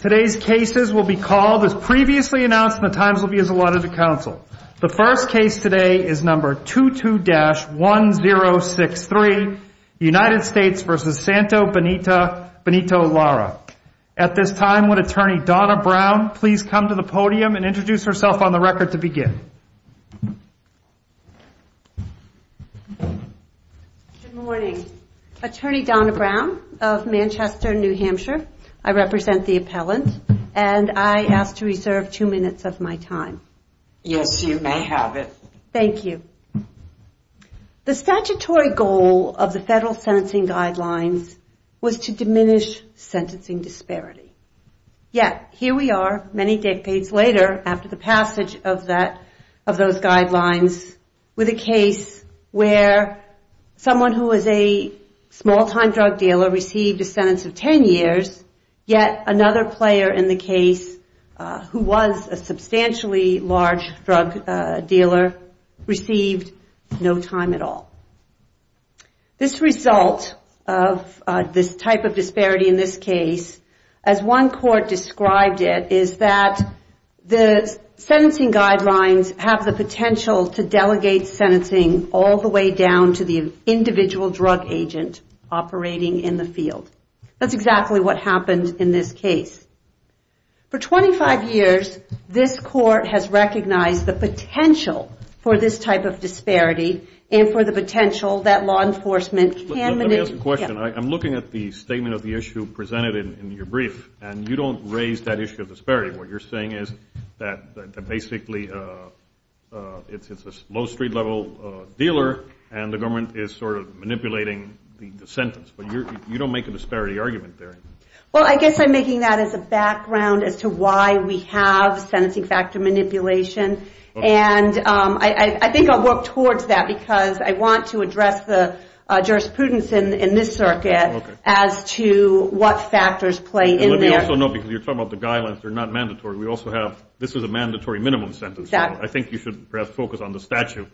At this time, would Attorney Donna Brown please come to the podium and introduce herself on the record to begin? Good morning. Attorney Donna Brown of Manchester, New Hampshire. I represent the appellant and I ask to reserve two minutes of my time. Yes, you may have it. Thank you. The statutory goal of the federal sentencing guidelines was to diminish sentencing disparity. Yet, here we are many decades later after the passage of those guidelines with a case where someone who was a small-time drug dealer received a sentence of 10 years, yet another player in the case who was a substantially large drug dealer, received no time at all. This result of this type of disparity in this case, as one court described it, is that the sentencing guidelines have the potential to delegate sentencing all the way down to the individual drug agent operating in the field. That's exactly what happened in this case. For 25 years, this court has recognized the potential for this type of disparity and for the potential that law enforcement can... Let me ask a question. I'm looking at the statement of the issue presented in your brief and you don't raise that issue of disparity. What you're saying is that basically it's a low street level dealer and the government is sort of manipulating the sentence. You don't make a disparity argument there. Well, I guess I'm making that as a background as to why we have sentencing factor manipulation. I think I'll work towards that because I want to address the jurisprudence in this circuit as to what factors play in there. Let me also note, because you're talking about the guidelines, they're not mandatory. This is a mandatory minimum sentence. I think you should perhaps focus on the statute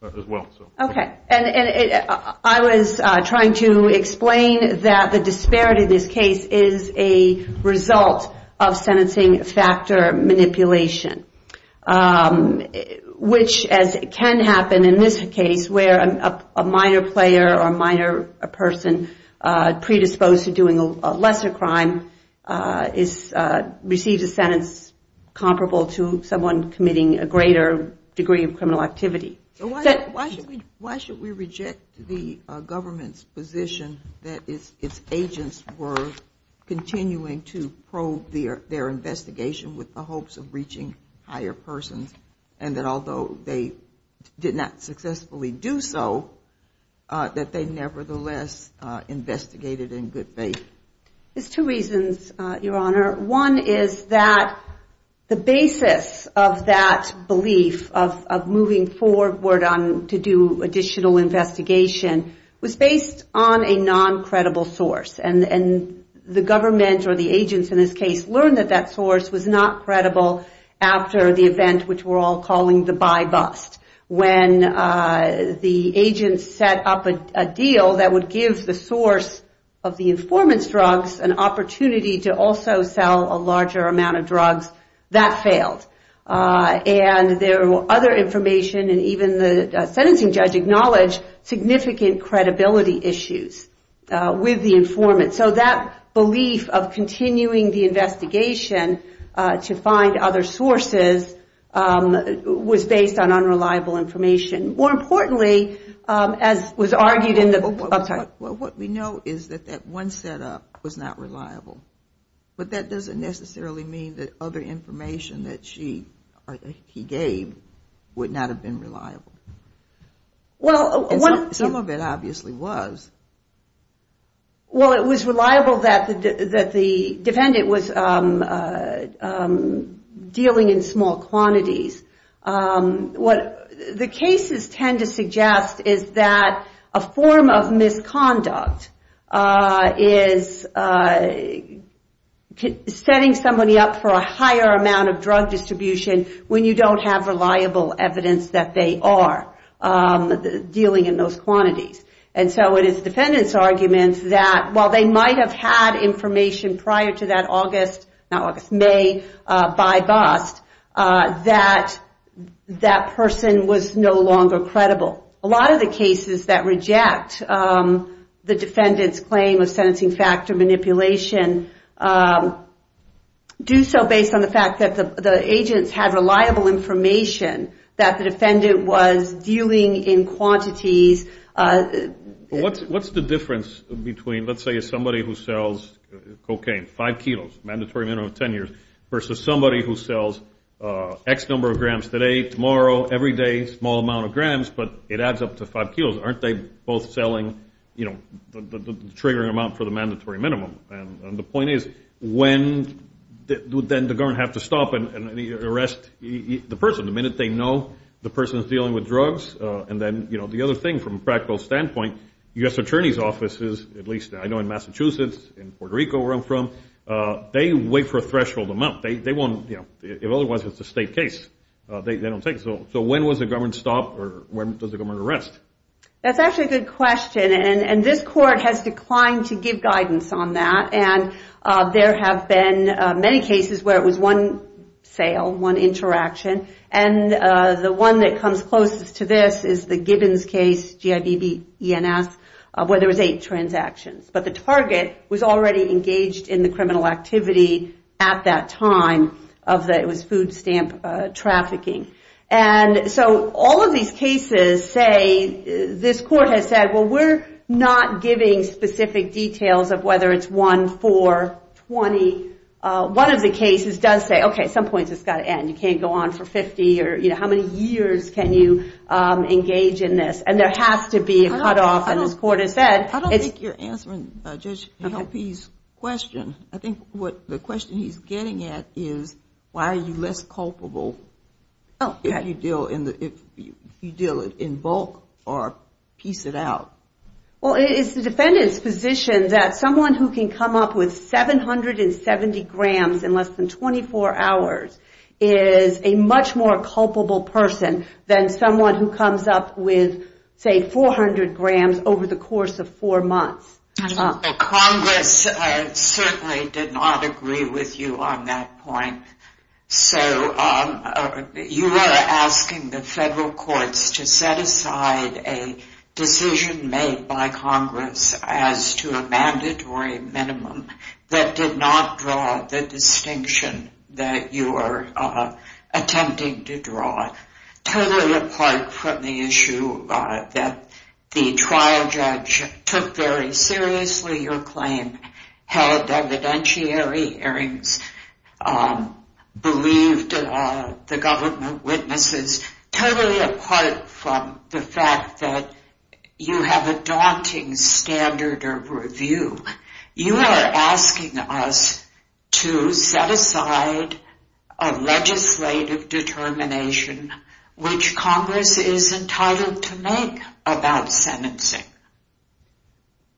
as well. I was trying to explain that the disparity in this case is a result of sentencing factor manipulation, which can happen in this case where a minor player or minor person predisposed to doing a lesser crime receives a sentence comparable to someone committing a greater degree of criminal activity. Why should we reject the government's position that its agents were continuing to probe their investigation with the hopes of reaching higher persons and that although they did not successfully do so, that they nevertheless investigated in good faith? There's two reasons, Your Honor. One is that the basis of that belief of moving forward to do additional investigation was based on a non-credible source. The government or the agents in this case learned that that source was not credible after the event which we're all calling the buy bust. When the agents set up a deal that would give the source of the informant's drugs an opportunity to also sell a larger amount of drugs, that failed. And there were other information and even the sentencing judge acknowledged significant credibility issues with the informant. So that belief of continuing the investigation to find other sources was based on unreliable information. What we know is that that one set up was not reliable. But that doesn't necessarily mean that other information that he gave would not have been reliable. Some of it obviously was. Well, it was reliable that the defendant was dealing in small quantities. The cases tend to suggest that a form of misconduct is setting somebody up for a higher amount of drug distribution when you don't have reliable evidence that they are dealing in those quantities. And so it is the defendant's argument that while they might have had information prior to that August, not August, May buy bust, that that person was no longer credible. A lot of the cases that reject the defendant's claim of sentencing factor manipulation do so based on the fact that the agents had reliable information that the defendant was dealing in quantities. What's the difference between let's say somebody who sells cocaine, 5 kilos, mandatory minimum of 10 years versus somebody who sells X number of grams today, tomorrow, every day, small amount of grams but it adds up to 5 kilos, aren't they both selling the triggering amount for the mandatory minimum? And the point is when would then the government have to stop and arrest the person the minute they know the person is dealing with drugs? And then the other thing from a practical standpoint, U.S. Attorney's offices, at least I know in Massachusetts, in Puerto Rico where I'm from, they wait for a threshold amount. They won't, you know, if otherwise it's a state case, they don't take it. So when was the government stopped or when does the government arrest? That's actually a good question. And this court has declined to give guidance on that. And there have been many cases where it was one sale, one interaction, and the one that comes closest to this is the Gibbons case, G-I-B-B-E-N-S, where there was eight transactions. But the target was already engaged in the criminal activity at that time of the, it was food stamp trafficking. And so all of these cases say, this court has said, well, we're not giving specific details of whether it's one, four, 20, one of the cases does say, okay, at some point it's got to end, you can't go on for 50 or, you know, how many years can you engage in this? And there has to be a cutoff, and this court has said it's... I don't think you're answering Judge Helpe's question. I think what, the question he's getting at is why are you less culpable if you deal in the, if you deal in bulk or piece it out? Well, it's the defendant's position that someone who can come up with 770 grams in less than 24 hours is a much more culpable person than someone who comes up with, say, 400 grams over the course of four months. Congress certainly did not agree with you on that point. So you are asking the federal courts to set aside a decision made by Congress as to a mandatory minimum that did not draw the distinction that you are attempting to draw. Totally apart from the issue that the trial judge took very seriously your claim, held evidentiary hearings, believed the government witnesses, totally apart from the fact that you have a daunting standard of review. You are asking us to set aside a legislative determination which Congress is entitled to make about sentencing.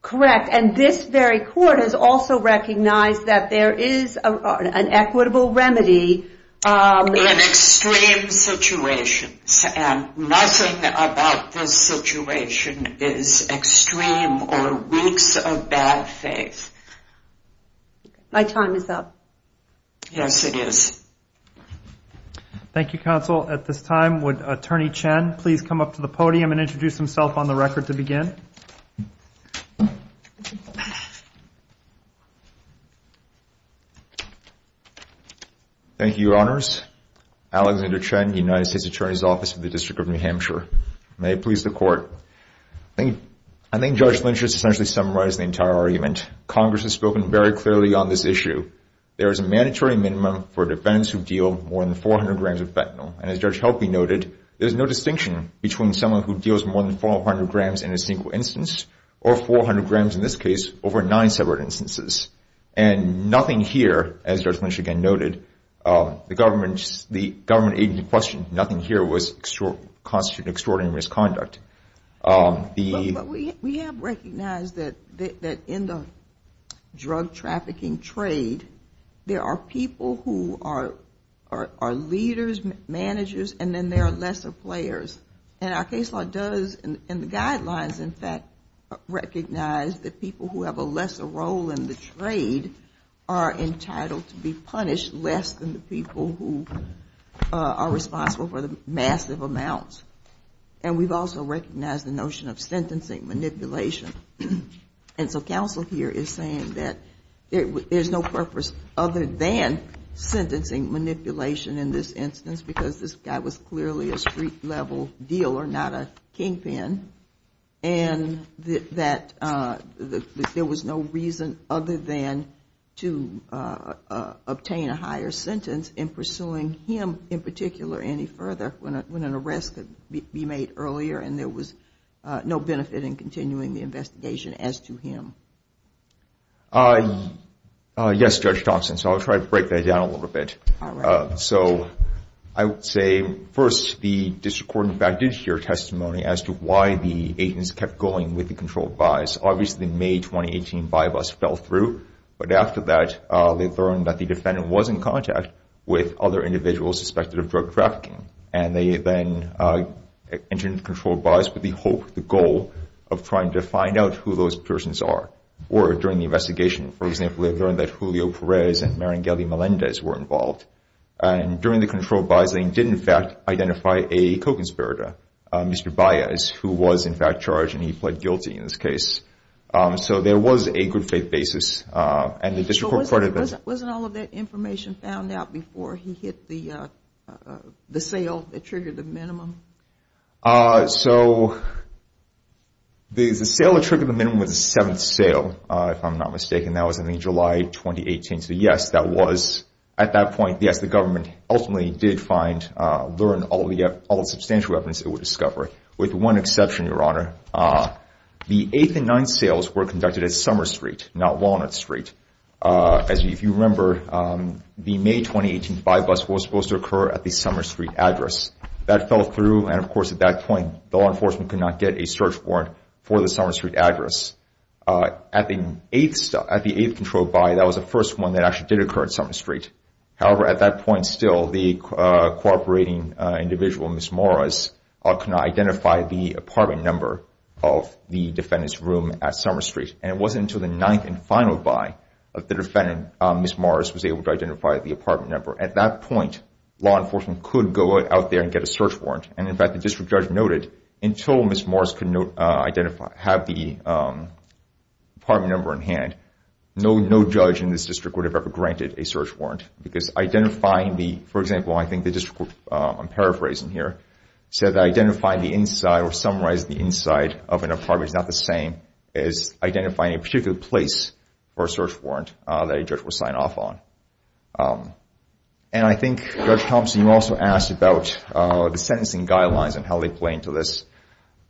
Correct. And this very court has also recognized that there is an equitable remedy... My time is up. Yes, it is. Thank you, Counsel. At this time, would Attorney Chen please come up to the podium and introduce himself on the record to begin? Thank you, Your Honors. Alexander Chen, United States Attorney's Office of the District of New Hampshire. May it please the Court. I think Judge Lynch has essentially summarized the entire argument. Congress has spoken very clearly on this issue. There is a mandatory minimum for defendants who deal more than 400 grams of fentanyl. And as Judge Helpe noted, there is no distinction between someone who deals more than 400 grams in a single instance or 400 grams, in this case, over nine separate instances. And nothing here, as Judge Lynch again noted, the government agency questioned, nothing here constitutes an extraordinary misconduct. But we have recognized that in the drug trafficking trade, there are people who are leaders, managers, and then there are lesser players. And our case law does, and the guidelines, in fact, recognize that people who have a lesser role in the trade are entitled to be punished less than the people who are responsible for the massive amounts. And we've also recognized the notion of sentencing manipulation. And so counsel here is saying that there's no purpose other than sentencing manipulation in this instance, because this guy was clearly a street level dealer, not a kingpin. And that there was no reason other than to obtain a higher sentence in pursuing him in particular any further when an arrest could be made earlier and there was no benefit in continuing the investigation as to him. Yes, Judge Thompson. So I'll try to break that down a little bit. So I would say first, the district court in fact did share testimony as to why the agents kept going with the controlled bias. Wasn't all of that information found out before he hit the sale that triggered the minimum? So the sale that triggered the minimum was the seventh sale, if I'm not mistaken. That was in July 2018. So yes, at that point, yes, the government ultimately did learn all the substantial evidence it would discover, with one exception, Your Honor. The eighth and ninth sales were conducted at Summer Street, not Walnut Street. As you remember, the May 2018 buy bus was supposed to occur at the Summer Street address. That fell through, and of course at that point, the law enforcement could not get a search warrant for the Summer Street address. At the eighth controlled buy, that was the first one that actually did occur at Summer Street. However, at that point still, the cooperating individual, Ms. Morris, could not identify the apartment number of the defendant's room at Summer Street. And it wasn't until the ninth and final buy that the defendant, Ms. Morris, was able to identify the apartment number. At that point, law enforcement could go out there and get a search warrant. And in fact, the district judge noted, until Ms. Morris could have the apartment number in hand, no judge in this district would have ever granted a search warrant. Because identifying the, for example, I think the district, I'm paraphrasing here, said that identifying the inside or summarizing the inside of an apartment is not the same as identifying a particular place for a search warrant that a judge would sign off on. And I think Judge Thompson, you also asked about the sentencing guidelines and how they play into this.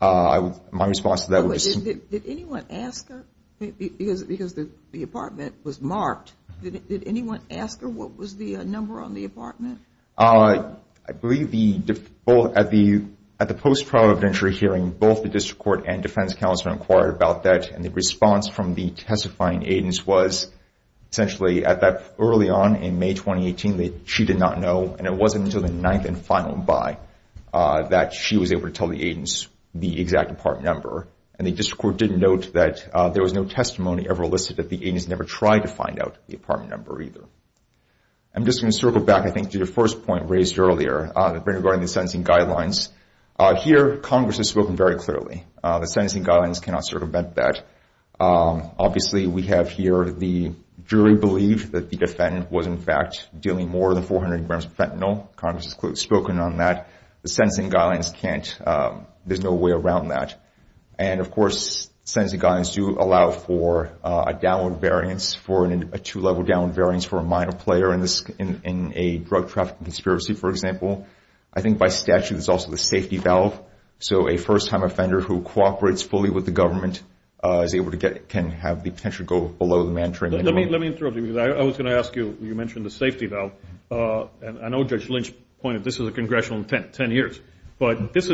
My response to that would be... Did anyone ask her? Because the apartment was marked. Did anyone ask her what was the number on the apartment? I believe at the post-trial evidentiary hearing, both the district court and defense counsel inquired about that. And the response from the testifying agents was essentially that early on in May 2018, she did not know, and it wasn't until the ninth and final buy that she was able to tell the agents the exact apartment number. And the district court did note that there was no testimony ever listed that the agents never tried to find out the apartment number either. I'm just going to circle back, I think, to the first point raised earlier regarding the sentencing guidelines. Here, Congress has spoken very clearly. The sentencing guidelines cannot circumvent that. Obviously, we have here the jury believed that the defendant was, in fact, dealing more than 400 grams of fentanyl. Congress has spoken on that. The sentencing guidelines can't. There's no way around that. And, of course, sentencing guidelines do allow for a two-level downward variance for a minor player in a drug trafficking conspiracy, for example. I think by statute, there's also the safety valve. So a first-time offender who cooperates fully with the government can have the potential to go below the mandatory minimum. Let me interrupt you because I was going to ask you, you mentioned the safety valve. And I know Judge Lynch pointed, this is a congressional intent, 10 years. But this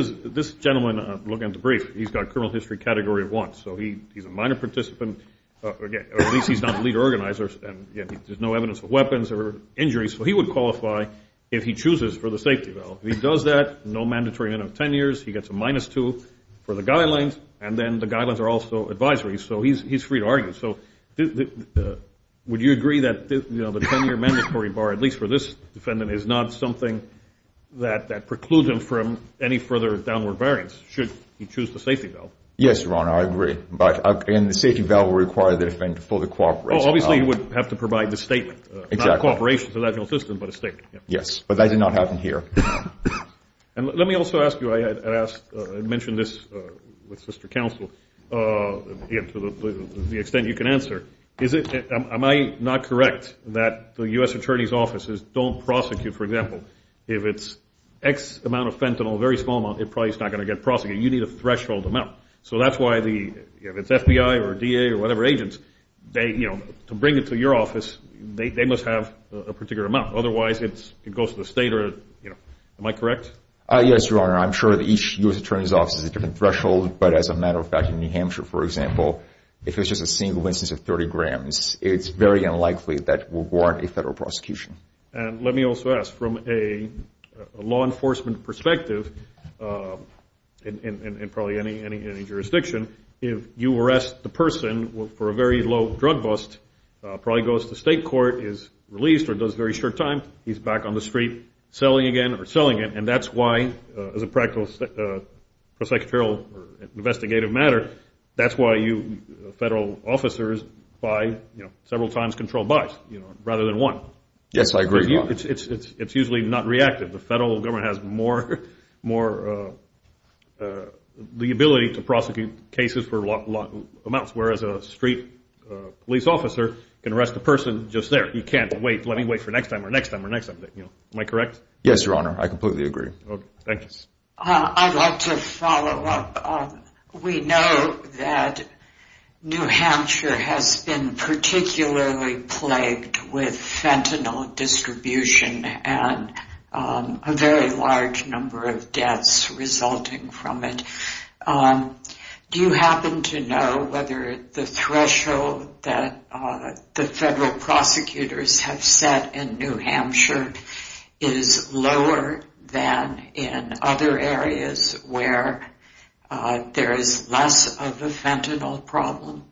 gentleman, looking at the brief, he's got criminal history category of one. So he's a minor participant, or at least he's not the lead organizer, and there's no evidence of weapons or injuries. So he would qualify if he chooses for the safety valve. If he does that, no mandatory minimum of 10 years, he gets a minus two for the guidelines, and then the guidelines are also advisory. So he's free to argue. So would you agree that the 10-year mandatory bar, at least for this defendant, is not something that precludes him from any further downward variance should he choose the safety valve? Yes, Your Honor, I agree. And the safety valve would require the defendant to fully cooperate. Obviously, he would have to provide the statement, not cooperation to the legitimate system, but a statement. Yes, but that did not happen here. And let me also ask you, I mentioned this with sister counsel, to the extent you can answer, am I not correct that the U.S. Attorney's offices don't prosecute, for example, if it's X amount of fentanyl, a very small amount, it probably is not going to get prosecuted. You need a threshold amount. So that's why the FBI or DA or whatever agents, to bring it to your office, they must have a particular amount. Otherwise, it goes to the state. Am I correct? Yes, Your Honor, I'm sure that each U.S. Attorney's office has a different threshold, but as a matter of fact, in New Hampshire, for example, if it's just a single instance of 30 grams, it's very unlikely that we'll warrant a federal prosecution. And let me also ask, from a law enforcement perspective, in probably any jurisdiction, if you arrest the person for a very low drug bust, probably goes to state court, is released or does very short time, he's back on the street selling again or selling it, and that's why, as a practical prosecutorial investigative matter, that's why you, federal officers, buy several times controlled buys, rather than one. Yes, I agree. It's usually not reactive. The federal government has more, the ability to prosecute cases for a lot of amounts, whereas a street police officer can arrest a person just there. You can't wait, let me wait for next time or next time or next time. Am I correct? Yes, Your Honor, I completely agree. I'd like to follow up. We know that New Hampshire has been particularly plagued with fentanyl distribution and a very large number of deaths resulting from it. Do you happen to know whether the threshold that the federal prosecutors have set in New Hampshire is lower than in other areas where there is less of a fentanyl problem?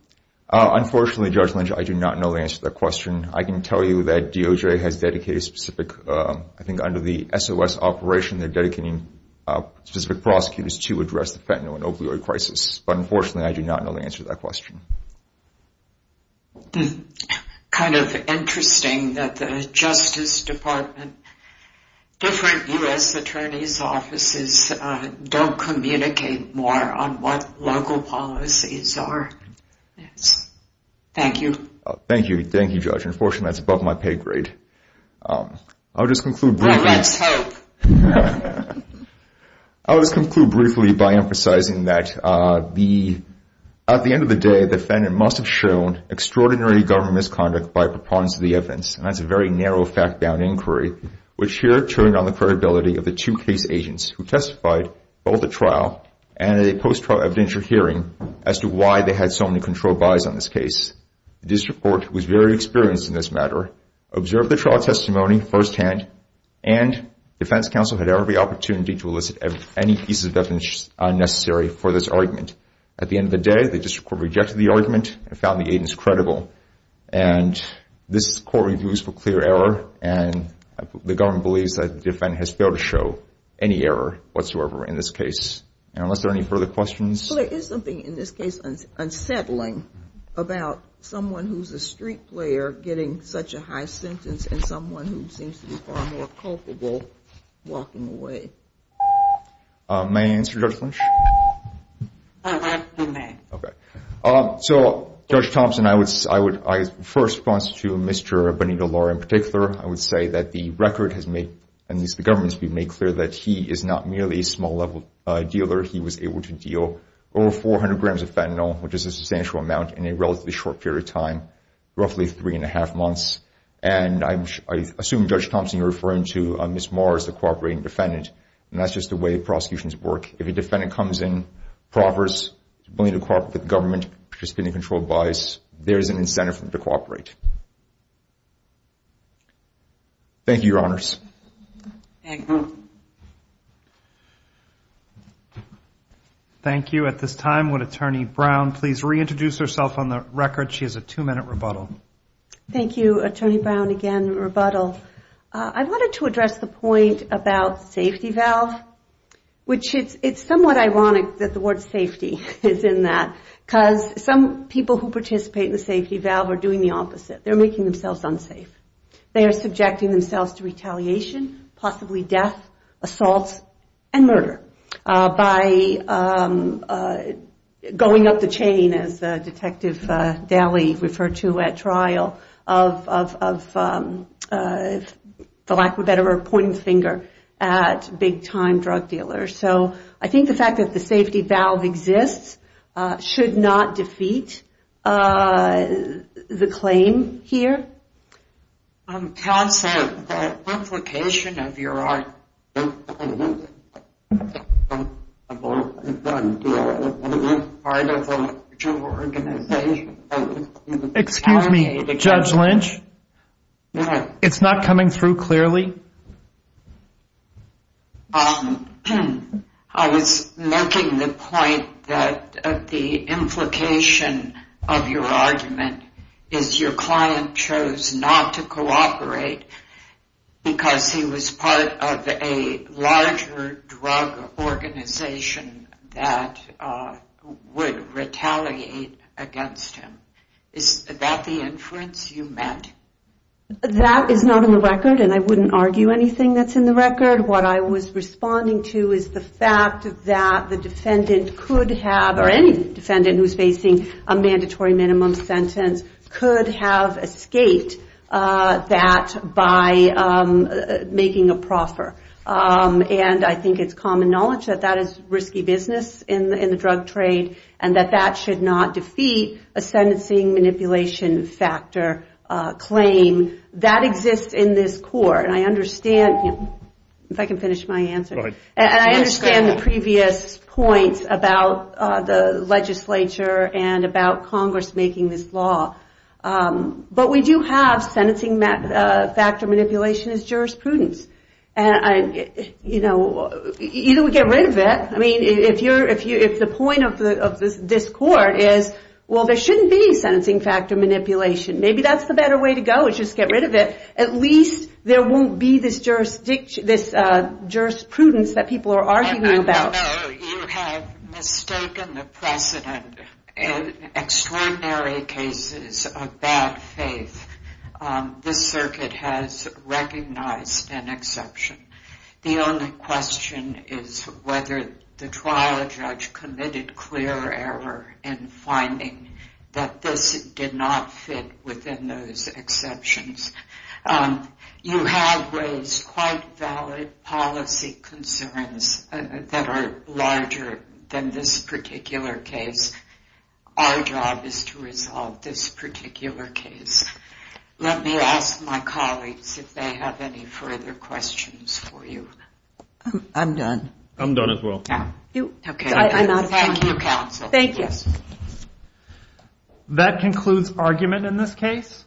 Unfortunately, Judge Lynch, I do not know the answer to that question. I can tell you that DOJ has dedicated specific, I think under the SOS operation, they're dedicating specific prosecutors to address the fentanyl and opioid crisis. But unfortunately, I do not know the answer to that question. It's kind of interesting that the Justice Department, different U.S. attorney's offices don't communicate more on what local policies are. Thank you. Thank you, Judge. Unfortunately, that's above my pay grade. Let's hope. I'll just conclude briefly by emphasizing that at the end of the day, the defendant must have shown extraordinary government misconduct by preponderance of the evidence. And that's a very narrow fact-bound inquiry, which here turned on the credibility of the two case agents who testified both at trial and at a post-trial evidentiary hearing as to why they had so many controlled bodies on this case. The district court was very experienced in this matter, observed the trial testimony firsthand, and defense counsel had every opportunity to elicit any pieces of evidence unnecessary for this argument. At the end of the day, the district court rejected the argument and found the agents credible. And this court reviews for clear error, and the government believes that the defendant has failed to show any error whatsoever in this case. And unless there are any further questions. There is something in this case unsettling about someone who's a street player getting such a high sentence and someone who seems to be far more culpable walking away. May I answer, Judge Lynch? You may. Okay. So, Judge Thompson, I would first respond to Mr. Benito-Lore in particular. I would say that the record has made, at least the government has made clear, that he is not merely a small-level dealer. He was able to deal over 400 grams of fentanyl, which is a substantial amount, in a relatively short period of time, roughly three and a half months. And I assume, Judge Thompson, you're referring to Ms. Moore as the cooperating defendant, and that's just the way prosecutions work. If a defendant comes in, proffers, willing to cooperate with the government, participating in controlled buys, there is an incentive for them to cooperate. Thank you, Your Honors. Thank you. Thank you. At this time, would Attorney Brown please reintroduce herself on the record? She has a two-minute rebuttal. Thank you, Attorney Brown. Again, rebuttal. I wanted to address the point about safety valve, which it's somewhat ironic that the word safety is in that, because some people who participate in the safety valve are doing the opposite. They're making themselves unsafe. They are subjecting themselves to retaliation, possibly death, assault, and murder, by going up the chain, as Detective Daly referred to at trial, of the lack of a better point of finger at big-time drug dealers. I think the fact that the safety valve exists should not defeat the claim here. Tell us the implication of your argument. Excuse me, Judge Lynch? It's not coming through clearly? Thank you. I was making the point that the implication of your argument is your client chose not to cooperate because he was part of a larger drug organization that would retaliate against him. Is that the inference you meant? That is not on the record, and I wouldn't argue anything that's in the record. What I was responding to is the fact that the defendant could have, or any defendant who's facing a mandatory minimum sentence, could have escaped that by making a proffer. I think it's common knowledge that that is risky business in the drug trade, and that that should not defeat a sentencing manipulation factor claim. That exists in this court, and I understand the previous points about the legislature and about Congress making this law. But we do have sentencing factor manipulation as jurisprudence. Either we get rid of it. If the point of this court is, well, there shouldn't be sentencing factor manipulation, maybe that's the better way to go is just get rid of it. At least there won't be this jurisprudence that people are arguing about. No, you have mistaken the precedent. In extraordinary cases of bad faith, this circuit has recognized an exception. The only question is whether the trial judge committed clear error in finding that this did not fit within those exceptions. You have raised quite valid policy concerns that are larger than this particular case. Our job is to resolve this particular case. Let me ask my colleagues if they have any further questions for you. I'm done. I'm done as well. Thank you, counsel. Thank you. That concludes argument in this case.